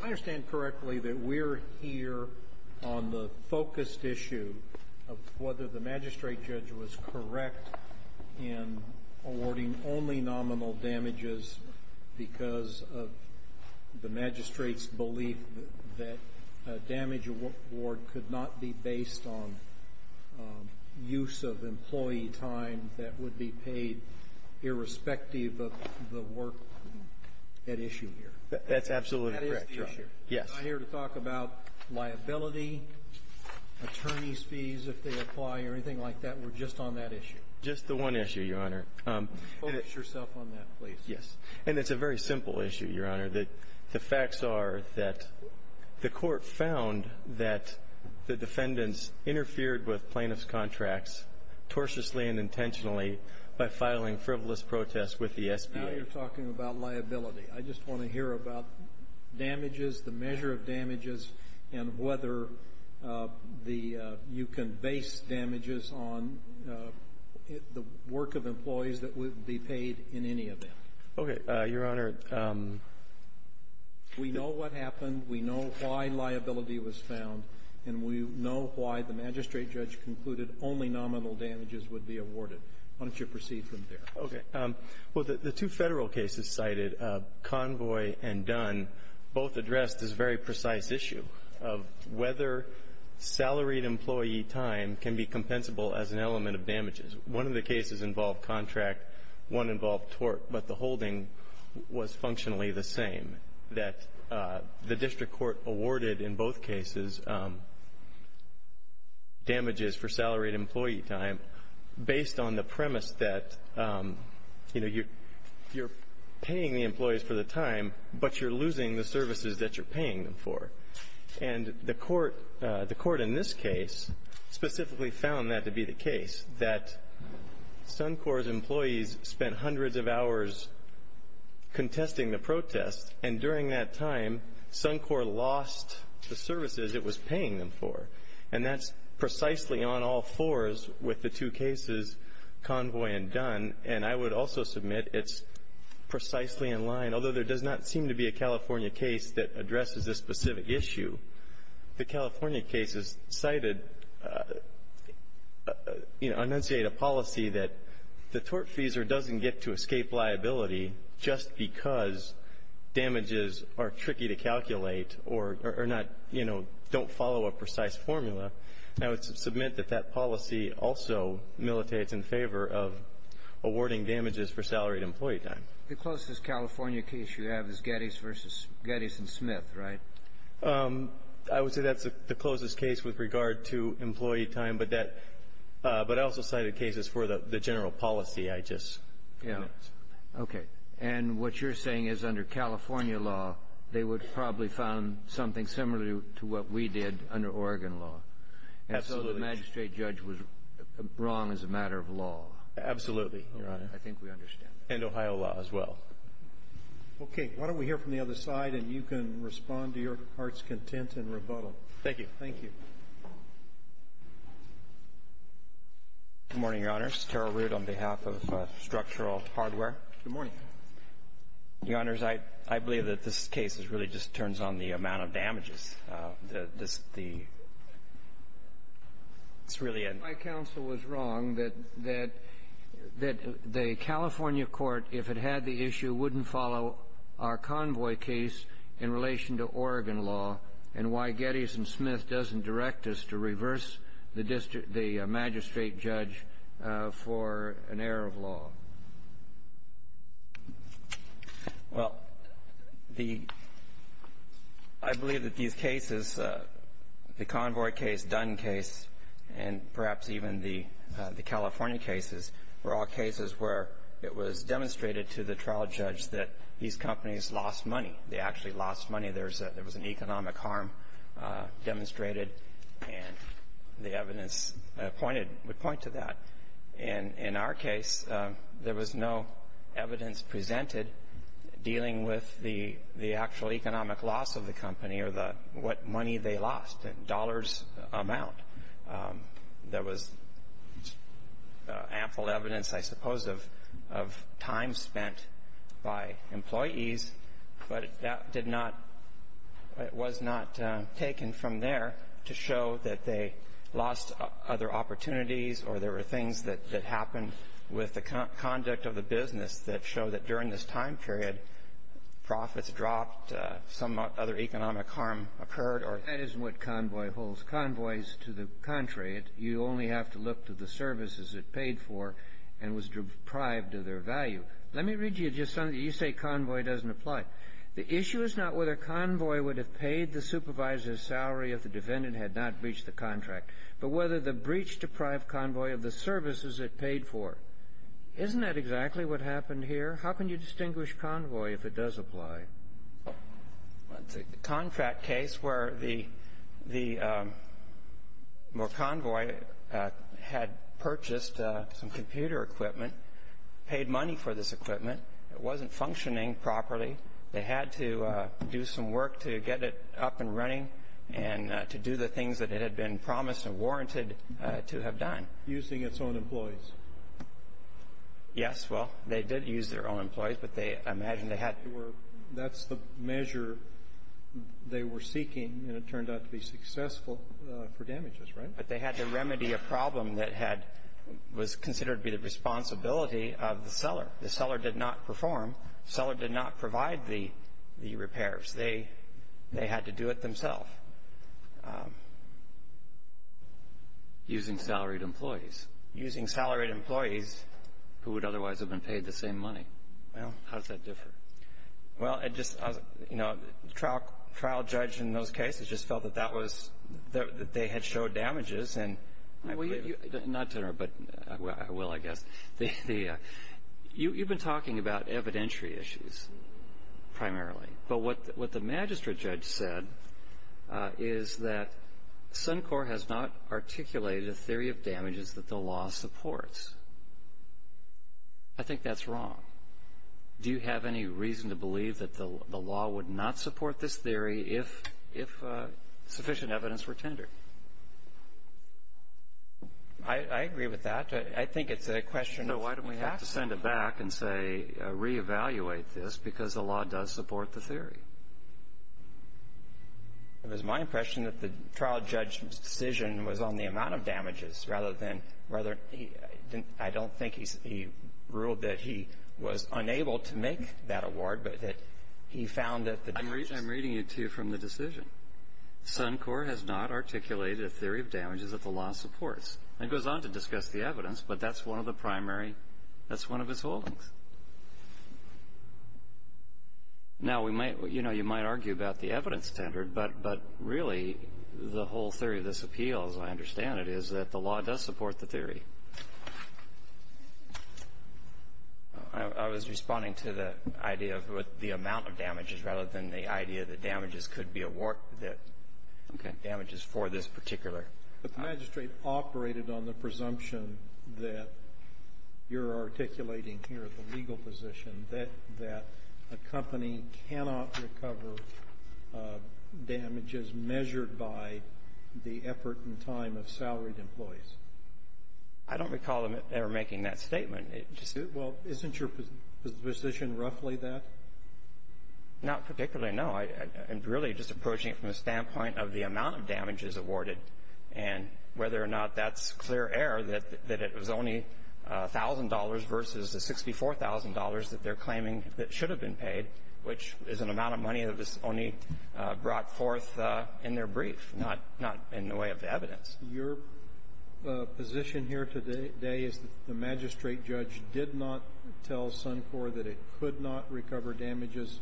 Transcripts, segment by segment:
I understand correctly that we're here on the focused issue of whether the magistrate judge was correct in awarding only nominal damages because of the magistrate's belief that a damage award could not be based on use of employee time that would be paid irrespective of the work at issue here. That's absolutely correct, Your Honor. That is the issue. Yes. I'm not here to talk about liability, attorney's fees if they apply or anything like that. We're just on that issue. Just the one issue, Your Honor. Focus yourself on that, please. Yes. And it's a very simple issue, Your Honor. The facts are that the court found that the defendants interfered with plaintiff's contracts tortuously and intentionally by filing frivolous protests with the SBA. Now you're talking about liability. I just want to hear about damages, the measure of damages, and whether you can base damages on the work of employees that would be paid in any event. Okay. Your Honor, we know what happened, we know why liability was found, and we know why the magistrate judge concluded only nominal damages would be awarded. Why don't you proceed from there? Okay. Well, the two Federal cases cited, Convoy and Dunn, both addressed this very precise issue of whether salaried employee time can be compensable as an element of damages. One of the cases involved contract, one involved tort, but the holding was functionally the same, that the district court awarded in both cases damages for salaried employee time based on the premise that, you know, you're paying the employees for the time, but you're losing the services that you're paying them for. And the Court in this case specifically found that to be the case, that Suncor's employees spent hundreds of hours contesting the protest, and during that time, Suncor lost the services it was paying them for. And that's precisely on all fours with the two cases, Convoy and Dunn. And I would also submit it's precisely in line, although there does not seem to be a California case that addresses this specific issue, the California cases cited enunciate a policy that the tortfeasor doesn't get to escape liability just because damages are tricky to calculate or are not, you know, don't follow a precise formula. And I would submit that that policy also militates in favor of awarding damages for salaried employee time. The closest California case you have is Geddes v. Geddes and Smith, right? I would say that's the closest case with regard to employee time. But that — but I also cited cases for the general policy. I just — Yeah. Okay. And what you're saying is under California law, they would probably found something similar to what we did under Oregon law. Absolutely. And so the magistrate judge was wrong as a matter of law. Absolutely, Your Honor. I think we understand that. And Ohio law as well. Okay. Why don't we hear from the other side, and you can respond to your heart's content and rebuttal. Thank you. Thank you. Good morning, Your Honors. Terrell Rood on behalf of Structural Hardware. Good morning. Your Honors, I believe that this case really just turns on the amount of damages. The — it's really a — My counsel was wrong that — that the California court, if it had the issue, wouldn't follow our convoy case in relation to Oregon law, and why Geddes and Smith doesn't direct us to reverse the magistrate judge for an error of law. Well, the — I believe that these cases, the convoy case, Dunn case, and perhaps even the California cases, were all cases where it was demonstrated to the trial judge that these companies lost money. They actually lost money. There was an economic harm demonstrated, and the evidence pointed — would point to that. And in our case, there was no evidence presented dealing with the actual economic loss of the company or the — what money they lost, dollars amount. There was ample evidence, I suppose, of time spent by employees, but that did not — it was not taken from there to show that they lost other opportunities or there were things that happened with the conduct of the business that show that during this time period, profits dropped, some other economic harm occurred, or — That isn't what convoy holds. Convoy is to the contrary. You only have to look to the services it paid for and was deprived of their value. Let me read you just something. You say convoy doesn't apply. The issue is not whether convoy would have paid the supervisor's salary if the defendant had not breached the contract, but whether the breach deprived convoy of the services it paid for. Isn't that exactly what happened here? How can you distinguish convoy if it does apply? Well, it's a contract case where the convoy had purchased some computer equipment, paid money for this equipment. It wasn't functioning properly. They had to do some work to get it up and running and to do the things that it had been promised and warranted to have done. Using its own employees. Yes, well, they did use their own employees, but I imagine they had to — that's the measure they were seeking, and it turned out to be successful for damages, right? But they had to remedy a problem that had — was considered to be the responsibility of the seller. The seller did not perform. Seller did not provide the — the repairs. They — they had to do it themselves. Using salaried employees. Using salaried employees who would otherwise have been paid the same money. Well, how does that differ? Well, it just — you know, the trial judge in those cases just felt that that was — that they had showed damages, and — Well, you — not to interrupt, but I will, I guess. The — you've been talking about evidentiary issues, primarily. But what the magistrate judge said is that Suncor has not articulated a theory of damages that the law supports. I think that's wrong. Do you have any reason to believe that the law would not support this theory if sufficient evidence were tendered? I agree with that. I think it's a question of facts. So why do we have to send it back and say, re-evaluate this? Because the law does support the theory. It was my impression that the trial judge's decision was on the amount of damages rather than — rather than — I don't think he's — he ruled that he was unable to make that award, but that he found that the damages — I'm reading it to you from the decision. Suncor has not articulated a theory of damages that the law supports. It goes on to discuss the evidence, but that's one of the primary — that's one of his holdings. Now, we might — you know, you might argue about the evidence tendered, but really, the whole theory of this appeal, as I understand it, is that the law does support the theory. I was responding to the idea of the amount of damages rather than the idea that damages could be awarded, that damages for this particular. But the magistrate operated on the presumption that you're articulating here, the legal position, that a company cannot recover damages measured by the effort and time of salaried employees. I don't recall them ever making that statement. Well, isn't your position roughly that? Not particularly, no. I'm really just approaching it from the standpoint of the amount of damages awarded and whether or not that's clear error, that it was only a thousand dollars versus the $64,000 that they're claiming that should have been paid, which is an amount of money that was only brought forth in their brief, not in the way of evidence. Your position here today is that the magistrate judge did not tell Suncor that it could not recover damages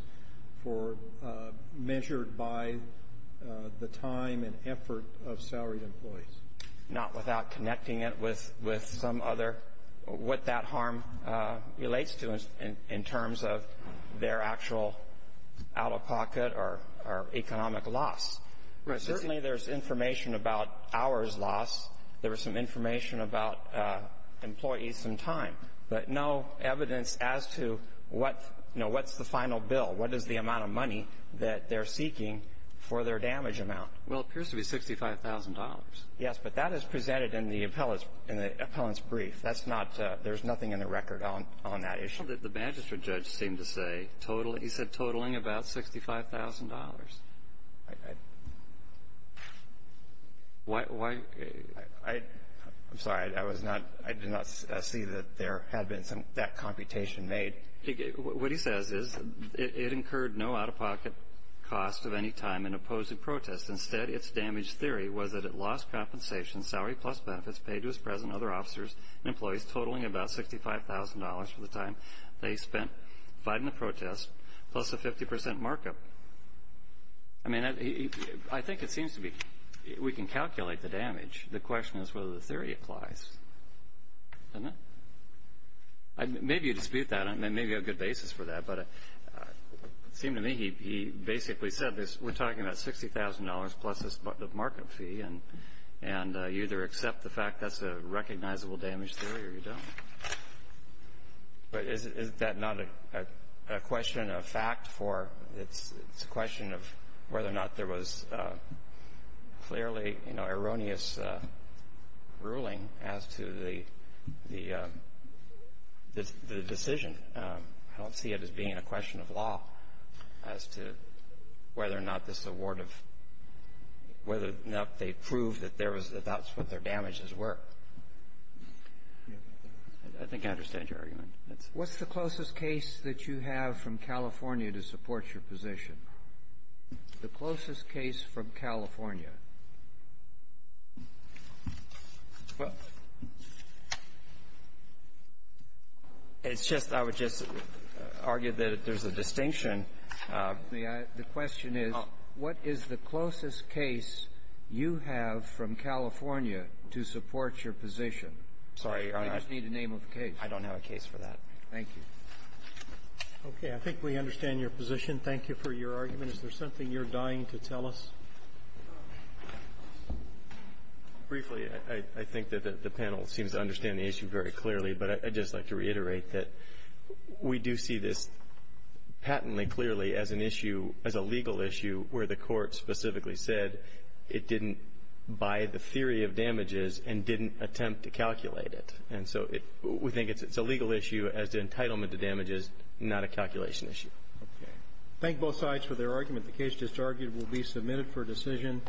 for – measured by the time and effort of salaried employees. Not without connecting it with some other – what that harm relates to in terms of their actual out-of-pocket or economic loss. Right. Certainly there's information about hours lost. There was some information about employees and time. But no evidence as to what – you know, what's the final bill, what is the amount of money that they're seeking for their damage amount. Well, it appears to be $65,000. Yes, but that is presented in the appellant's brief. That's not – there's nothing in the record on that issue. The magistrate judge seemed to say total – he said totaling about $65,000. Why – I'm sorry. I was not – I did not see that there had been some – that computation made. What he says is it incurred no out-of-pocket cost of any time in opposing protest. Instead, its damage theory was that it lost compensation, salary plus benefits paid to its present and other officers and employees totaling about $65,000 for the time they spent fighting the protest, plus a 50 percent markup. I mean, I think it seems to be – we can calculate the damage. The question is whether the theory applies, doesn't it? Maybe you dispute that. I mean, maybe you have a good basis for that. But it seemed to me he basically said this. We're talking about $60,000 plus this markup fee, and you either accept the fact that's a recognizable damage theory or you don't. But is that not a question of fact for – it's a question of whether or not there was a fairly, you know, erroneous ruling as to the decision. I don't see it as being a question of law as to whether or not this award of – whether or not they proved that there was – that that's what their damages were. I think I understand your argument. That's it. What's the closest case that you have from California to support your position? The closest case from California? It's just – I would just argue that there's a distinction. The question is, what is the closest case you have from California to support your position? Sorry. I just need a name of the case. I don't have a case for that. Thank you. Okay. I think we understand your position. Thank you for your argument. Is there something you're dying to tell us? Briefly, I think that the panel seems to understand the issue very clearly, but I'd just like to reiterate that we do see this patently clearly as an issue – as a legal issue where the Court specifically said it didn't buy the theory of damages and didn't attempt to calculate it. And so we think it's a legal issue as to entitlement to damages, not a calculation issue. Thank both sides for their argument. The case just argued will be submitted for decision.